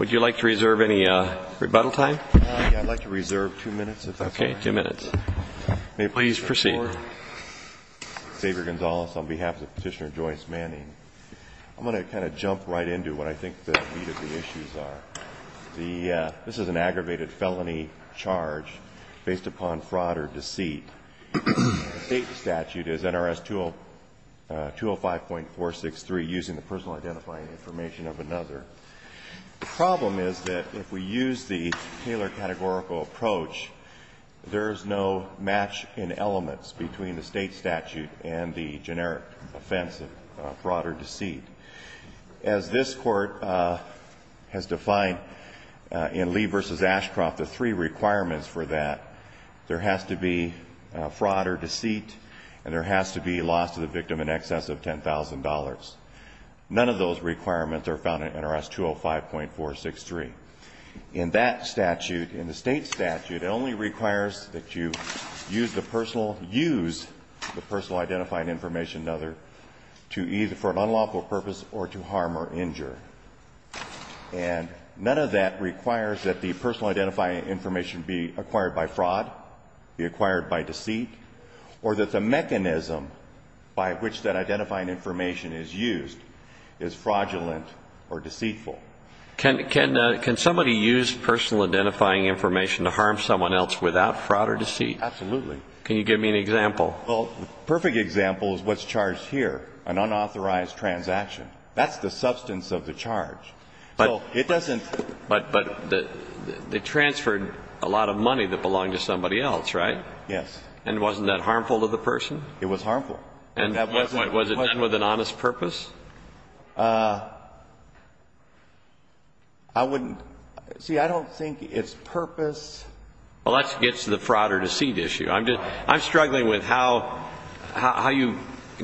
Would you like to reserve any rebuttal time? I'd like to reserve two minutes if that's all right. Okay, two minutes. Please proceed. Xavier Gonzalez on behalf of Petitioner Joyce Manning. I'm going to kind of jump right into what I think the meat of the issues are. This is an aggravated felony charge based upon fraud or deceit. The state statute is NRS 205.463, using the personal identifying information of another. The problem is that if we use the Taylor categorical approach, there is no match in elements between the state statute and the generic offense of fraud or deceit. As this Court has defined in Lee v. Ashcroft, the three requirements for that, there has to be fraud or deceit, and there has to be loss to the victim in excess of $10,000. None of those requirements are found in NRS 205.463. In that statute, in the state statute, it only requires that you use the personal identifying information of another to either for an unlawful purpose or to harm or injure. And none of that requires that the personal identifying information be acquired by fraud, be acquired by deceit, or that the mechanism by which that identifying information is used is fraudulent or deceitful. Can somebody use personal identifying information to harm someone else without fraud or deceit? Absolutely. Can you give me an example? Well, the perfect example is what's charged here, an unauthorized transaction. That's the substance of the charge. So it doesn't ---- But they transferred a lot of money that belonged to somebody else, right? Yes. And wasn't that harmful to the person? It was harmful. And was it done with an honest purpose? I wouldn't ---- see, I don't think it's purpose. Well, that gets to the fraud or deceit issue. I'm struggling with how you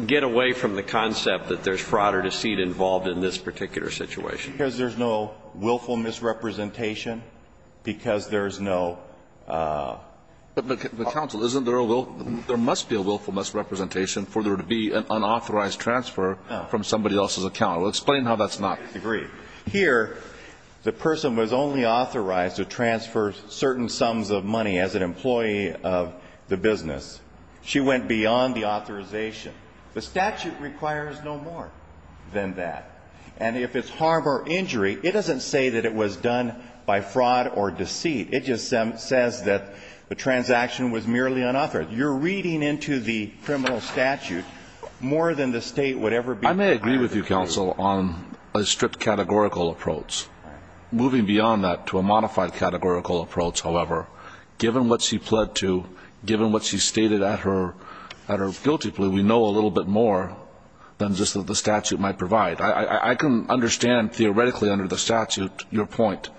get away from the concept that there's fraud or deceit involved in this particular situation. Because there's no willful misrepresentation, because there's no ---- But, counsel, isn't there a willful ---- there must be a willful misrepresentation for there to be an unauthorized transfer from somebody else's account. Explain how that's not. I agree. Here, the person was only authorized to transfer certain sums of money as an employee of the business. She went beyond the authorization. The statute requires no more than that. And if it's harm or injury, it doesn't say that it was done by fraud or deceit. It just says that the transaction was merely unauthorized. But you're reading into the criminal statute more than the State would ever be. I may agree with you, counsel, on a strict categorical approach. Moving beyond that to a modified categorical approach, however, given what she pled to, given what she stated at her guilty plea, we know a little bit more than just what the statute might provide. I can understand theoretically under the statute your point.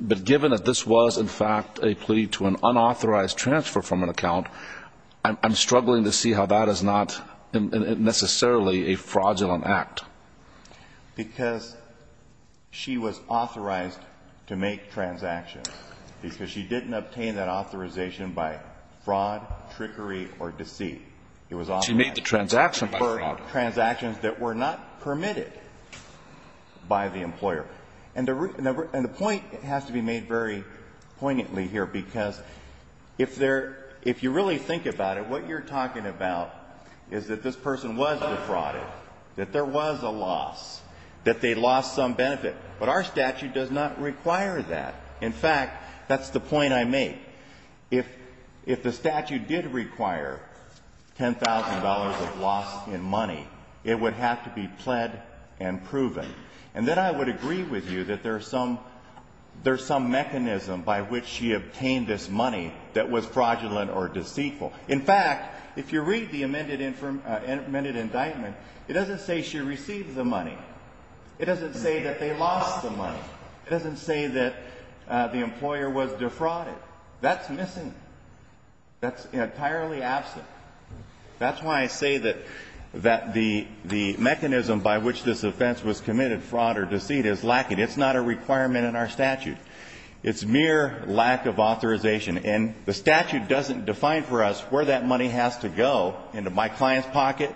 But given that this was, in fact, a plea to an unauthorized transfer from an account, I'm struggling to see how that is not necessarily a fraudulent act. Because she was authorized to make transactions, because she didn't obtain that authorization by fraud, trickery, or deceit. It was authorized. She made the transaction by fraud. For transactions that were not permitted by the employer. And the point has to be made very poignantly here, because if there – if you really think about it, what you're talking about is that this person was defrauded, that there was a loss, that they lost some benefit. But our statute does not require that. In fact, that's the point I make. If the statute did require $10,000 of loss in money, it would have to be pled and proven. And then I would agree with you that there's some mechanism by which she obtained this money that was fraudulent or deceitful. In fact, if you read the amended indictment, it doesn't say she received the money. It doesn't say that they lost the money. It doesn't say that the employer was defrauded. That's missing. That's entirely absent. That's why I say that the mechanism by which this offense was committed, fraud or deceit, is lacking. It's not a requirement in our statute. It's mere lack of authorization. And the statute doesn't define for us where that money has to go, into my client's pocket,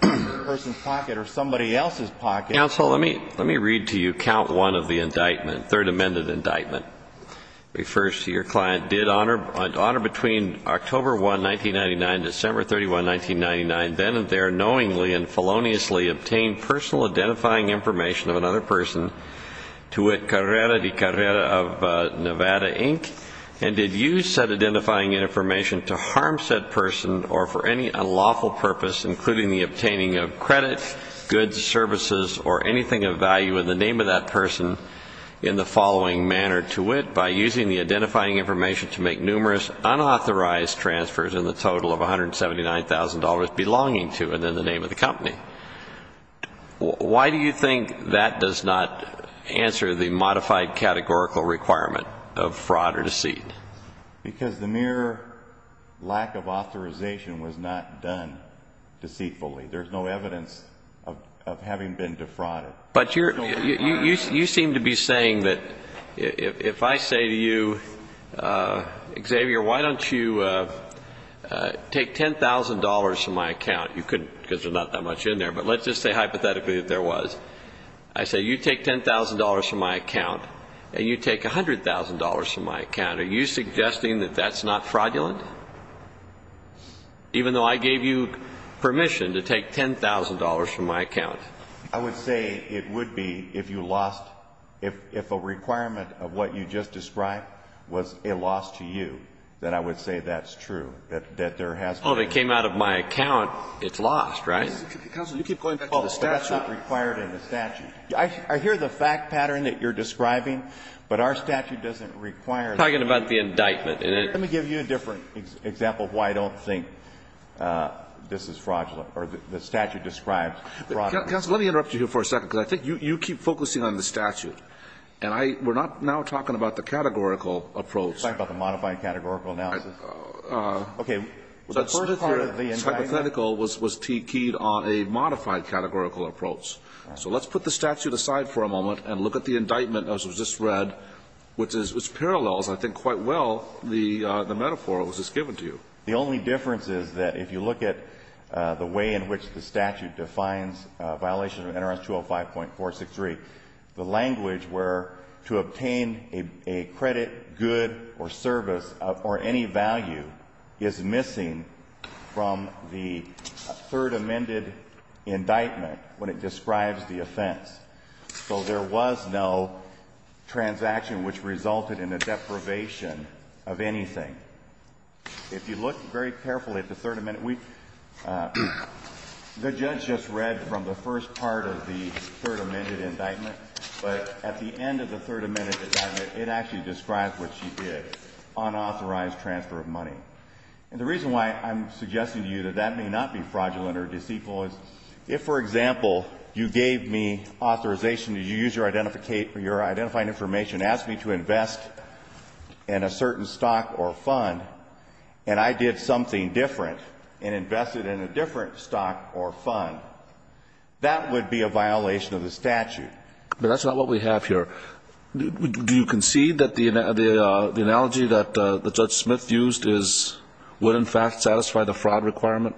the person's pocket, or somebody else's pocket. Counsel, let me read to you count one of the indictment, third amended indictment. It refers to your client. Did honor between October 1, 1999 and December 31, 1999, then and there knowingly and feloniously obtain personal identifying information of another person to with Carrera de Carrera of Nevada, Inc., and did use said identifying information to harm said person or for any unlawful purpose, including the obtaining of credit, goods, services, or anything of value in the name of that person in the following manner to wit, by using the identifying information to make numerous unauthorized transfers in the total of $179,000 belonging to and in the name of the company. Why do you think that does not answer the modified categorical requirement of fraud or deceit? Because the mere lack of authorization was not done deceitfully. There's no evidence of having been defrauded. But you seem to be saying that if I say to you, Xavier, why don't you take $10,000 from my account? You couldn't because there's not that much in there. But let's just say hypothetically that there was. I say you take $10,000 from my account and you take $100,000 from my account. Are you suggesting that that's not fraudulent? Even though I gave you permission to take $10,000 from my account. I would say it would be if you lost, if a requirement of what you just described was a loss to you, then I would say that's true, that there has been a loss. Well, if it came out of my account, it's lost, right? Counsel, you keep going back to the statute. Oh, that's not required in the statute. I hear the fact pattern that you're describing, but our statute doesn't require Talking about the indictment. Let me give you a different example of why I don't think this is fraudulent or the statute describes fraud. Counsel, let me interrupt you here for a second because I think you keep focusing on the statute. And we're not now talking about the categorical approach. You're talking about the modified categorical analysis. The first part of the indictment. The first part of the hypothetical was keyed on a modified categorical approach. So let's put the statute aside for a moment and look at the indictment as was just read, which parallels, I think, quite well the metaphor that was just given to you. The only difference is that if you look at the way in which the statute defines violation of NRS 205.463, the language where to obtain a credit, good or service or any value is missing from the third amended indictment when it describes the offense. So there was no transaction which resulted in a deprivation of anything. If you look very carefully at the third amendment, the judge just read from the first part of the third amended indictment. But at the end of the third amended indictment, it actually describes what she did, unauthorized transfer of money. And the reason why I'm suggesting to you that that may not be fraudulent or is not fraudulent is because the statute says that the person who is authorized to use your identifying information asked me to invest in a certain stock or fund and I did something different and invested in a different stock or fund. That would be a violation of the statute. But that's not what we have here. Do you concede that the analogy that Judge Smith used is, would in fact satisfy the fraud requirement?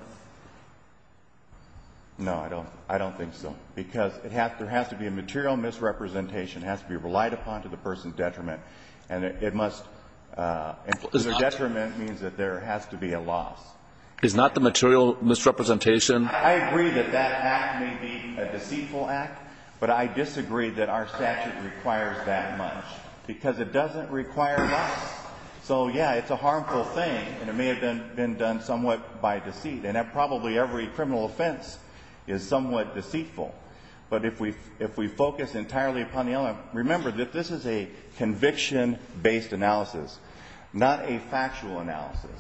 No, I don't. I don't think so. Because there has to be a material misrepresentation. It has to be relied upon to the person's detriment. And it must be a detriment means that there has to be a loss. Is not the material misrepresentation? I agree that that act may be a deceitful act, but I disagree that our statute requires that much because it doesn't require loss. So, yeah, it's a harmful thing and it may have been done somewhat by deceit. And that probably every criminal offense is somewhat deceitful. But if we focus entirely upon the element, remember that this is a conviction-based analysis, not a factual analysis.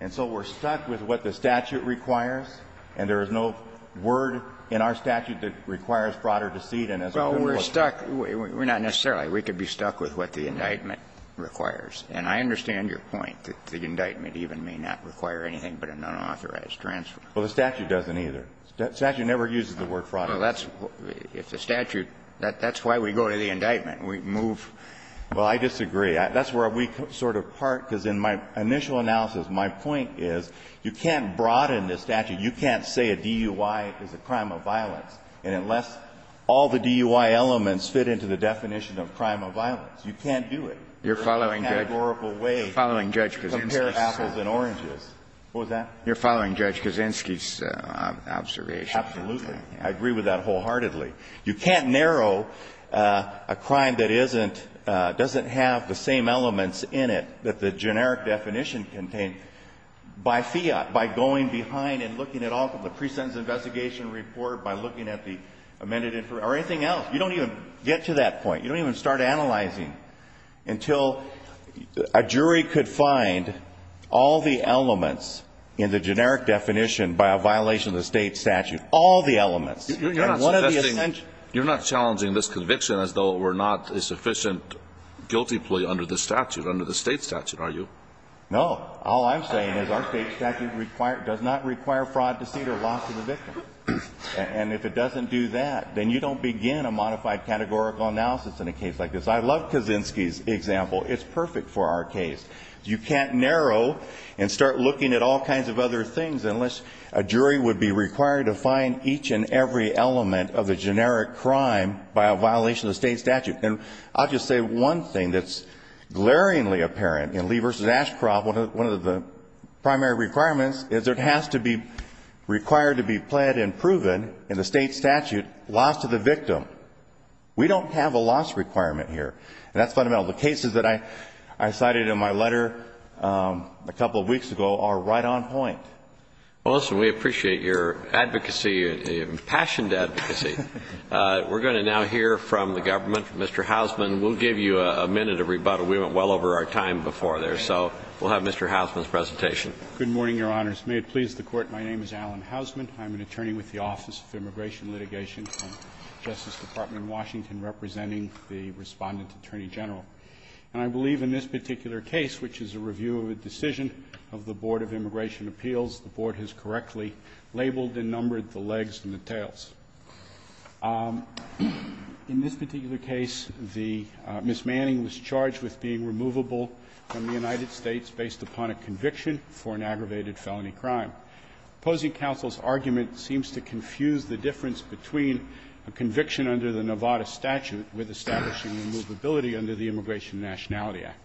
And so we're stuck with what the statute requires and there is no word in our statute that requires fraud or deceit and as a criminal offense. Well, we're stuck. We're not necessarily. We could be stuck with what the indictment requires. And I understand your point that the indictment even may not require anything but a nonauthorized transfer. Well, the statute doesn't either. The statute never uses the word fraud or deceit. Well, that's the statute. That's why we go to the indictment. We move. Well, I disagree. That's where we sort of part, because in my initial analysis, my point is you can't broaden the statute. You can't say a DUI is a crime of violence. And unless all the DUI elements fit into the definition of crime of violence, you can't do it. You're following, Judge? You're following, Judge? Compare apples and oranges. What was that? You're following, Judge, Kaczynski's observation. Absolutely. I agree with that wholeheartedly. You can't narrow a crime that isn't, doesn't have the same elements in it that the generic definition contained by fiat, by going behind and looking at all the pre-sentence investigation report, by looking at the amended or anything else. You don't even get to that point. You don't even start analyzing until a jury could find all the elements in the generic definition by a violation of the State statute, all the elements. You're not challenging this conviction as though it were not a sufficient guilty plea under the statute, under the State statute, are you? No. All I'm saying is our State statute does not require fraud, deceit or loss of the victim. And if it doesn't do that, then you don't begin a modified categorical analysis in a case like this. I love Kaczynski's example. It's perfect for our case. You can't narrow and start looking at all kinds of other things unless a jury would be required to find each and every element of the generic crime by a violation of the State statute. And I'll just say one thing that's glaringly apparent in Lee v. Ashcroft. One of the primary requirements is it has to be required to be pled and proven in the State statute loss of the victim. We don't have a loss requirement here. And that's fundamental. The cases that I cited in my letter a couple of weeks ago are right on point. Well, listen, we appreciate your advocacy, your impassioned advocacy. We're going to now hear from the government, from Mr. Hausman. We'll give you a minute of rebuttal. We went well over our time before there. So we'll have Mr. Hausman's presentation. Good morning, Your Honors. May it please the Court, my name is Alan Hausman. I'm an attorney with the Office of Immigration Litigation, Justice Department in Washington, representing the Respondent Attorney General. And I believe in this particular case, which is a review of a decision of the Board of Immigration Appeals, the Board has correctly labeled and numbered the legs and the In this particular case, the Ms. Manning was charged with being removable from the United States based upon a conviction for an aggravated felony crime. Opposing counsel's argument seems to confuse the difference between a conviction under the Nevada statute with establishing removability under the Immigration Nationality Act.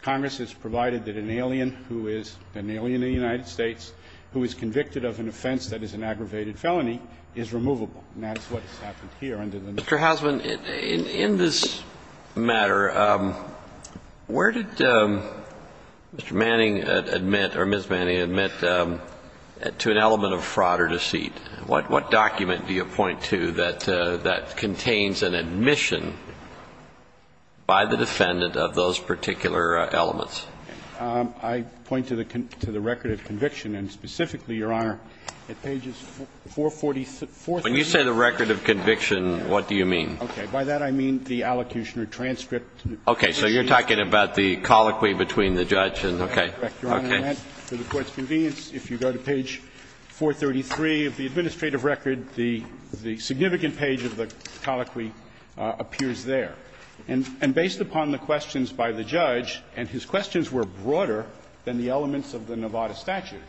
Congress has provided that an alien who is an alien in the United States who is convicted of an offense that is an aggravated felony is removable. And that's what has happened here under the Nevada statute. Mr. Hausman, in this matter, where did Mr. Manning admit or Ms. Manning admit to an element of fraud or deceit? What document do you point to that contains an admission by the defendant of those particular elements? I point to the record of conviction, and specifically, Your Honor, at pages 443. When you say the record of conviction, what do you mean? Okay. By that, I mean the allocution or transcript. Okay. So you're talking about the colloquy between the judge and, okay. Correct, Your Honor. For the Court's convenience, if you go to page 433 of the administrative record, the significant page of the colloquy appears there. And based upon the questions by the judge, and his questions were broader than the elements of the Nevada statute.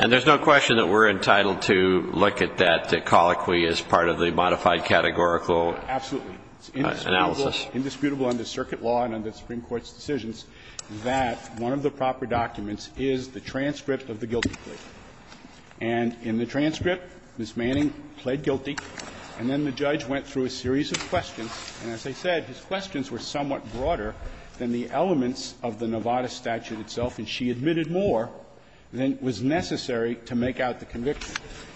And there's no question that we're entitled to look at that colloquy as part of the modified categorical analysis? Absolutely. It's indisputable under circuit law and under the Supreme Court's decisions that one of the proper documents is the transcript of the guilty plea. And in the transcript, Ms. Manning pled guilty, and then the judge went through a series of questions, and as I said, his questions were somewhat broader than the elements of the Nevada statute itself, and she admitted more than was necessary to make out the conviction.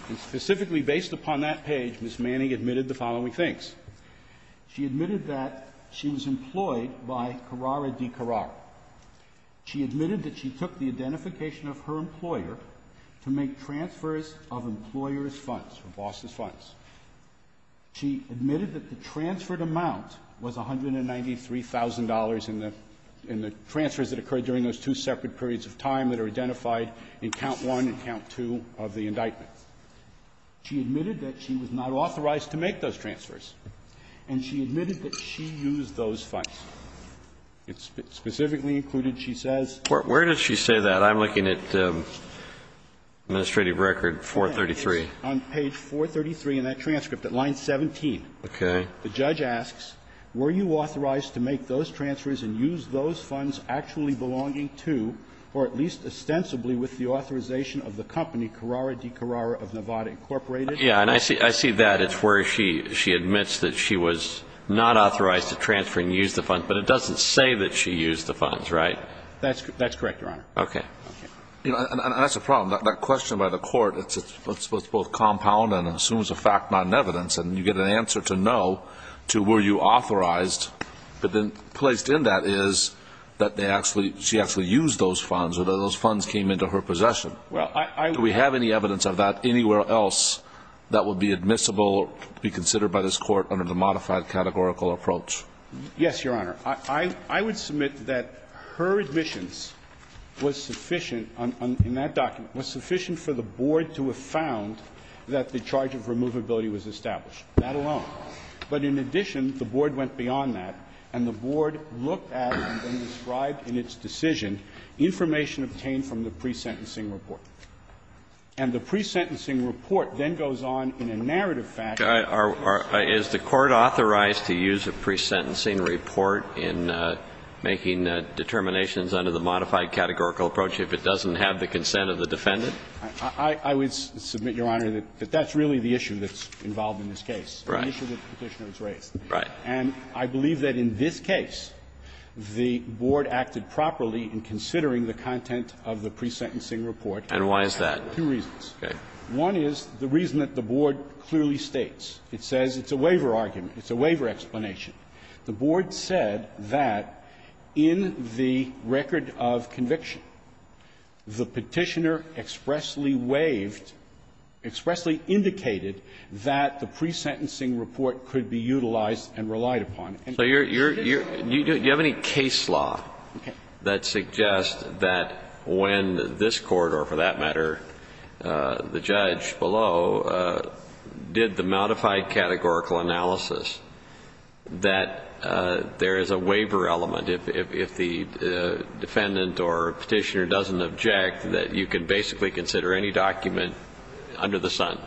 And specifically based upon that page, Ms. Manning admitted the following things. She admitted that she was employed by Carrara di Carrara. She admitted that she took the identification of her employer to make transfers of employers' funds, or bosses' funds. She admitted that the transferred amount was $193,000 in the transfers that occurred during those two separate periods of time that are identified in count one and count two of the indictment. She admitted that she was not authorized to make those transfers. And she admitted that she used those funds. It's specifically included, she says. Where does she say that? I'm looking at administrative record 433. On page 433 in that transcript, at line 17. Okay. The judge asks, Were you authorized to make those transfers and use those funds actually belonging to, or at least ostensibly with the authorization of the company Carrara di Carrara of Nevada Incorporated? Yeah. And I see that. It's where she admits that she was not authorized to transfer and use the funds. But it doesn't say that she used the funds, right? That's correct, Your Honor. Okay. And that's the problem. That question by the court, it's both compound and assumes a fact, not an evidence. And you get an answer to no, to were you authorized. But then placed in that is that they actually, she actually used those funds or those funds came into her possession. Do we have any evidence of that anywhere else that would be admissible, be considered by this Court under the modified categorical approach? Yes, Your Honor. I would submit that her admissions was sufficient, in that document, was sufficient for the board to have found that the charge of removability was established. That alone. But in addition, the board went beyond that, and the board looked at and then described in its decision information obtained from the pre-sentencing report. And the pre-sentencing report then goes on in a narrative fashion. Is the court authorized to use a pre-sentencing report in making determinations under the modified categorical approach if it doesn't have the consent of the defendant? I would submit, Your Honor, that that's really the issue that's involved in this case. Right. An issue that the Petitioner has raised. Right. And I believe that in this case, the board acted properly in considering the content of the pre-sentencing report. And why is that? Two reasons. Okay. One is the reason that the board clearly states. It says it's a waiver argument. It's a waiver explanation. The board said that in the record of conviction, the Petitioner expressly waived — expressly indicated that the pre-sentencing report could be utilized and relied upon. So you're — you have any case law that suggests that when this Court, or for that judge below, did the modified categorical analysis, that there is a waiver element if the defendant or Petitioner doesn't object, that you can basically consider any document under the sun?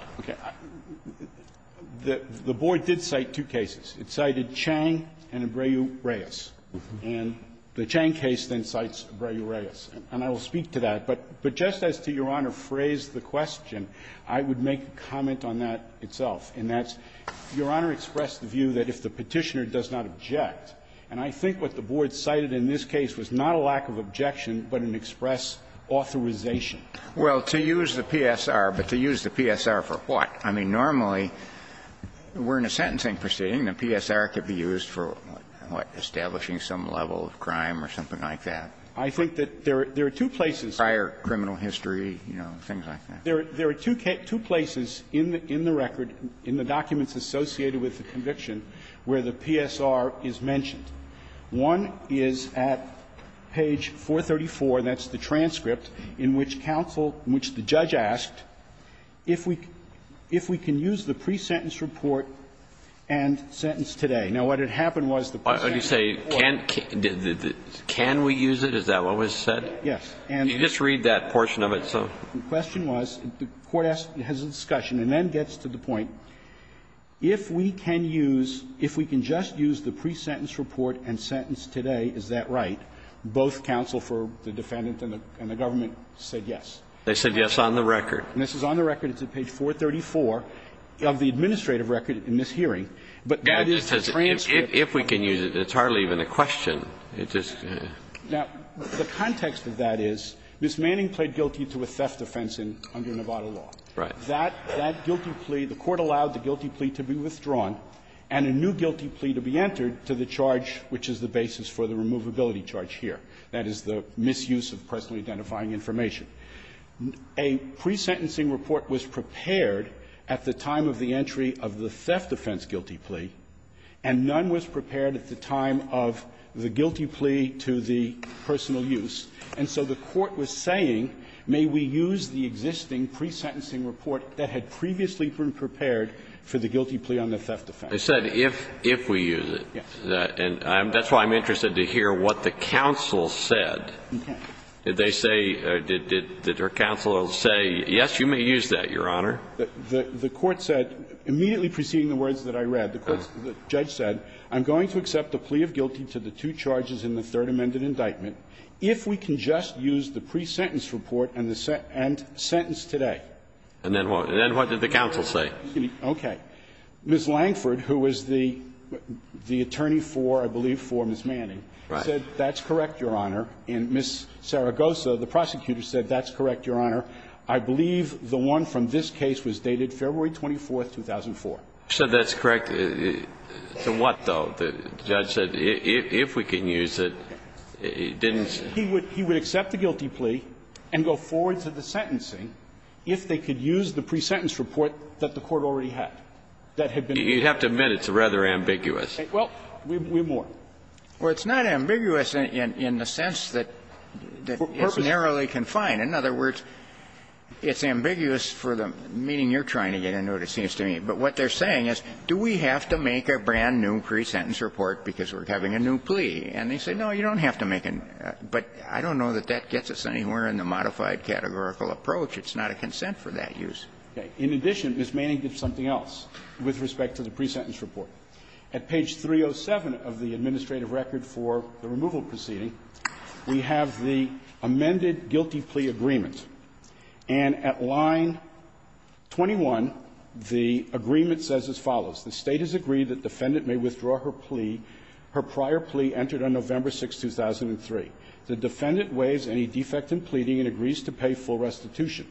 The board did cite two cases. It cited Chang and Abreu-Reyes. And the Chang case then cites Abreu-Reyes. And I will speak to that. But just as to Your Honor's phrase, the question, I would make a comment on that itself, and that's Your Honor expressed the view that if the Petitioner does not object, and I think what the board cited in this case was not a lack of objection, but an express authorization. Well, to use the PSR, but to use the PSR for what? I mean, normally, we're in a sentencing proceeding. The PSR could be used for what? Establishing some level of crime or something like that. I think that there are two places. Prior criminal history, you know, things like that. There are two places in the record, in the documents associated with the conviction, where the PSR is mentioned. One is at page 434. That's the transcript in which counsel, in which the judge asked if we can use the pre-sentence report and sentence today. Now, what had happened was the pre-sentence report. Why would you say can we use it? Is that what was said? Yes. And you just read that portion of it, so. The question was, the court has a discussion and then gets to the point, if we can use, if we can just use the pre-sentence report and sentence today, is that right? Both counsel for the defendant and the government said yes. They said yes on the record. And this is on the record. It's at page 434 of the administrative record in this hearing. But that is the transcript. If we can use it, it's hardly even a question. It just goes. Now, the context of that is, Ms. Manning pled guilty to a theft offense under Nevada law. Right. That guilty plea, the court allowed the guilty plea to be withdrawn and a new guilty plea to be entered to the charge, which is the basis for the removability charge here. That is the misuse of personally identifying information. A pre-sentencing report was prepared at the time of the entry of the theft offense and the guilty plea, and none was prepared at the time of the guilty plea to the personal use. And so the court was saying, may we use the existing pre-sentencing report that had previously been prepared for the guilty plea on the theft offense? They said if we use it. Yes. And that's why I'm interested to hear what the counsel said. Did they say, did their counsel say, yes, you may use that, Your Honor? The court said, immediately preceding the words that I read, the judge said, I'm going to accept the plea of guilty to the two charges in the Third Amendment indictment if we can just use the pre-sentence report and sentence today. And then what? And then what did the counsel say? Okay. Ms. Langford, who was the attorney for, I believe, for Ms. Manning, said that's correct, Your Honor. And Ms. Saragosa, the prosecutor, said that's correct, Your Honor. I believe the one from this case was dated February 24th, 2004. So that's correct. The what, though? The judge said if we can use it. He didn't say. He would accept the guilty plea and go forward to the sentencing if they could use the pre-sentence report that the court already had, that had been prepared. You have to admit it's rather ambiguous. Well, we're more. Well, it's not ambiguous in the sense that it's narrowly confined. In other words, it's ambiguous for the meaning you're trying to get into, it seems to me. But what they're saying is, do we have to make a brand-new pre-sentence report because we're having a new plea? And they say, no, you don't have to make a new plea. But I don't know that that gets us anywhere in the modified categorical approach. It's not a consent for that use. Okay. In addition, Ms. Manning did something else with respect to the pre-sentence report. At page 307 of the administrative record for the removal proceeding, we have the amended guilty plea agreement. And at line 21, the agreement says as follows. The State has agreed that defendant may withdraw her plea, her prior plea entered on November 6, 2003. The defendant waives any defect in pleading and agrees to pay full restitution.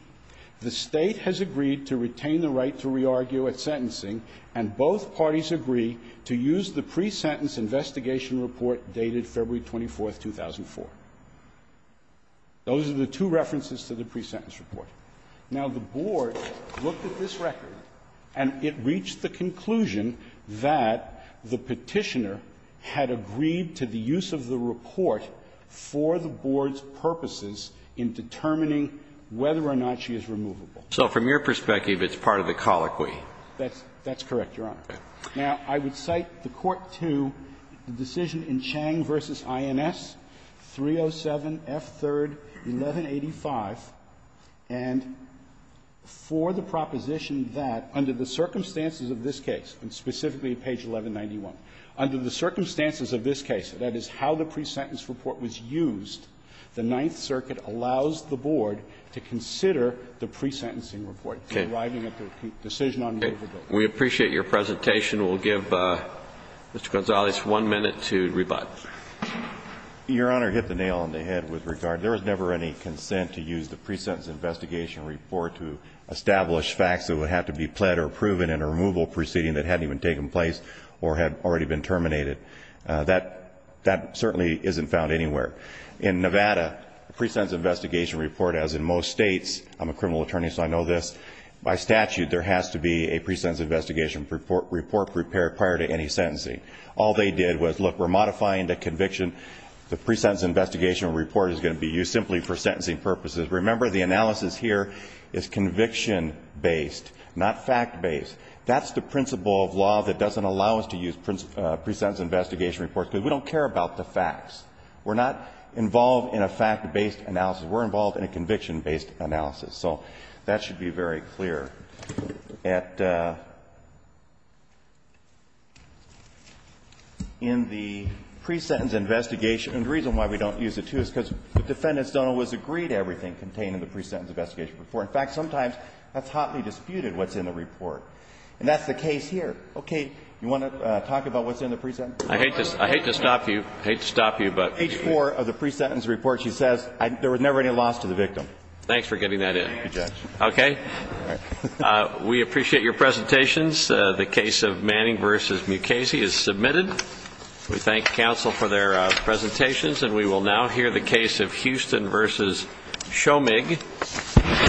The State has agreed to retain the right to re-argue at sentencing, and both parties agree to use the pre-sentence investigation report dated February 24, 2004. Those are the two references to the pre-sentence report. Now, the Board looked at this record, and it reached the conclusion that the Petitioner had agreed to the use of the report for the Board's purposes in determining whether or not she is removable. So from your perspective, it's part of the colloquy. That's correct, Your Honor. Now, I would cite the Court to the decision in Chang v. INS, 307 F. 3rd, 1185. And for the proposition that, under the circumstances of this case, and specifically at page 1191, under the circumstances of this case, that is, how the pre-sentence report was used, the Ninth Circuit allows the Board to consider the pre-sentencing report. It's arriving at the decision on November 6. We appreciate your presentation. We'll give Mr. Gonzalez one minute to rebut. Your Honor, hit the nail on the head with regard. There was never any consent to use the pre-sentence investigation report to establish facts that would have to be pled or proven in a removal proceeding that hadn't even taken place or had already been terminated. That certainly isn't found anywhere. In Nevada, the pre-sentence investigation report, as in most states, I'm a criminal attorney, so I know this. By statute, there has to be a pre-sentence investigation report prepared prior to any sentencing. All they did was, look, we're modifying the conviction. The pre-sentence investigation report is going to be used simply for sentencing purposes. Remember, the analysis here is conviction-based, not fact-based. That's the principle of law that doesn't allow us to use pre-sentence investigation reports, because we don't care about the facts. We're not involved in a fact-based analysis. We're involved in a conviction-based analysis. So that should be very clear. In the pre-sentence investigation, and the reason why we don't use it, too, is because the defendants don't always agree to everything contained in the pre-sentence investigation report. In fact, sometimes that's hotly disputed, what's in the report. And that's the case here. Okay, you want to talk about what's in the pre-sentence report? I hate to stop you. I hate to stop you, but... Page 4 of the pre-sentence report, she says there was never any loss to the victim. Thanks for getting that in. Thank you, Judge. Okay. We appreciate your presentations. The case of Manning v. Mukasey is submitted. We thank counsel for their presentations. And we will now hear the case of Houston v. Shomig.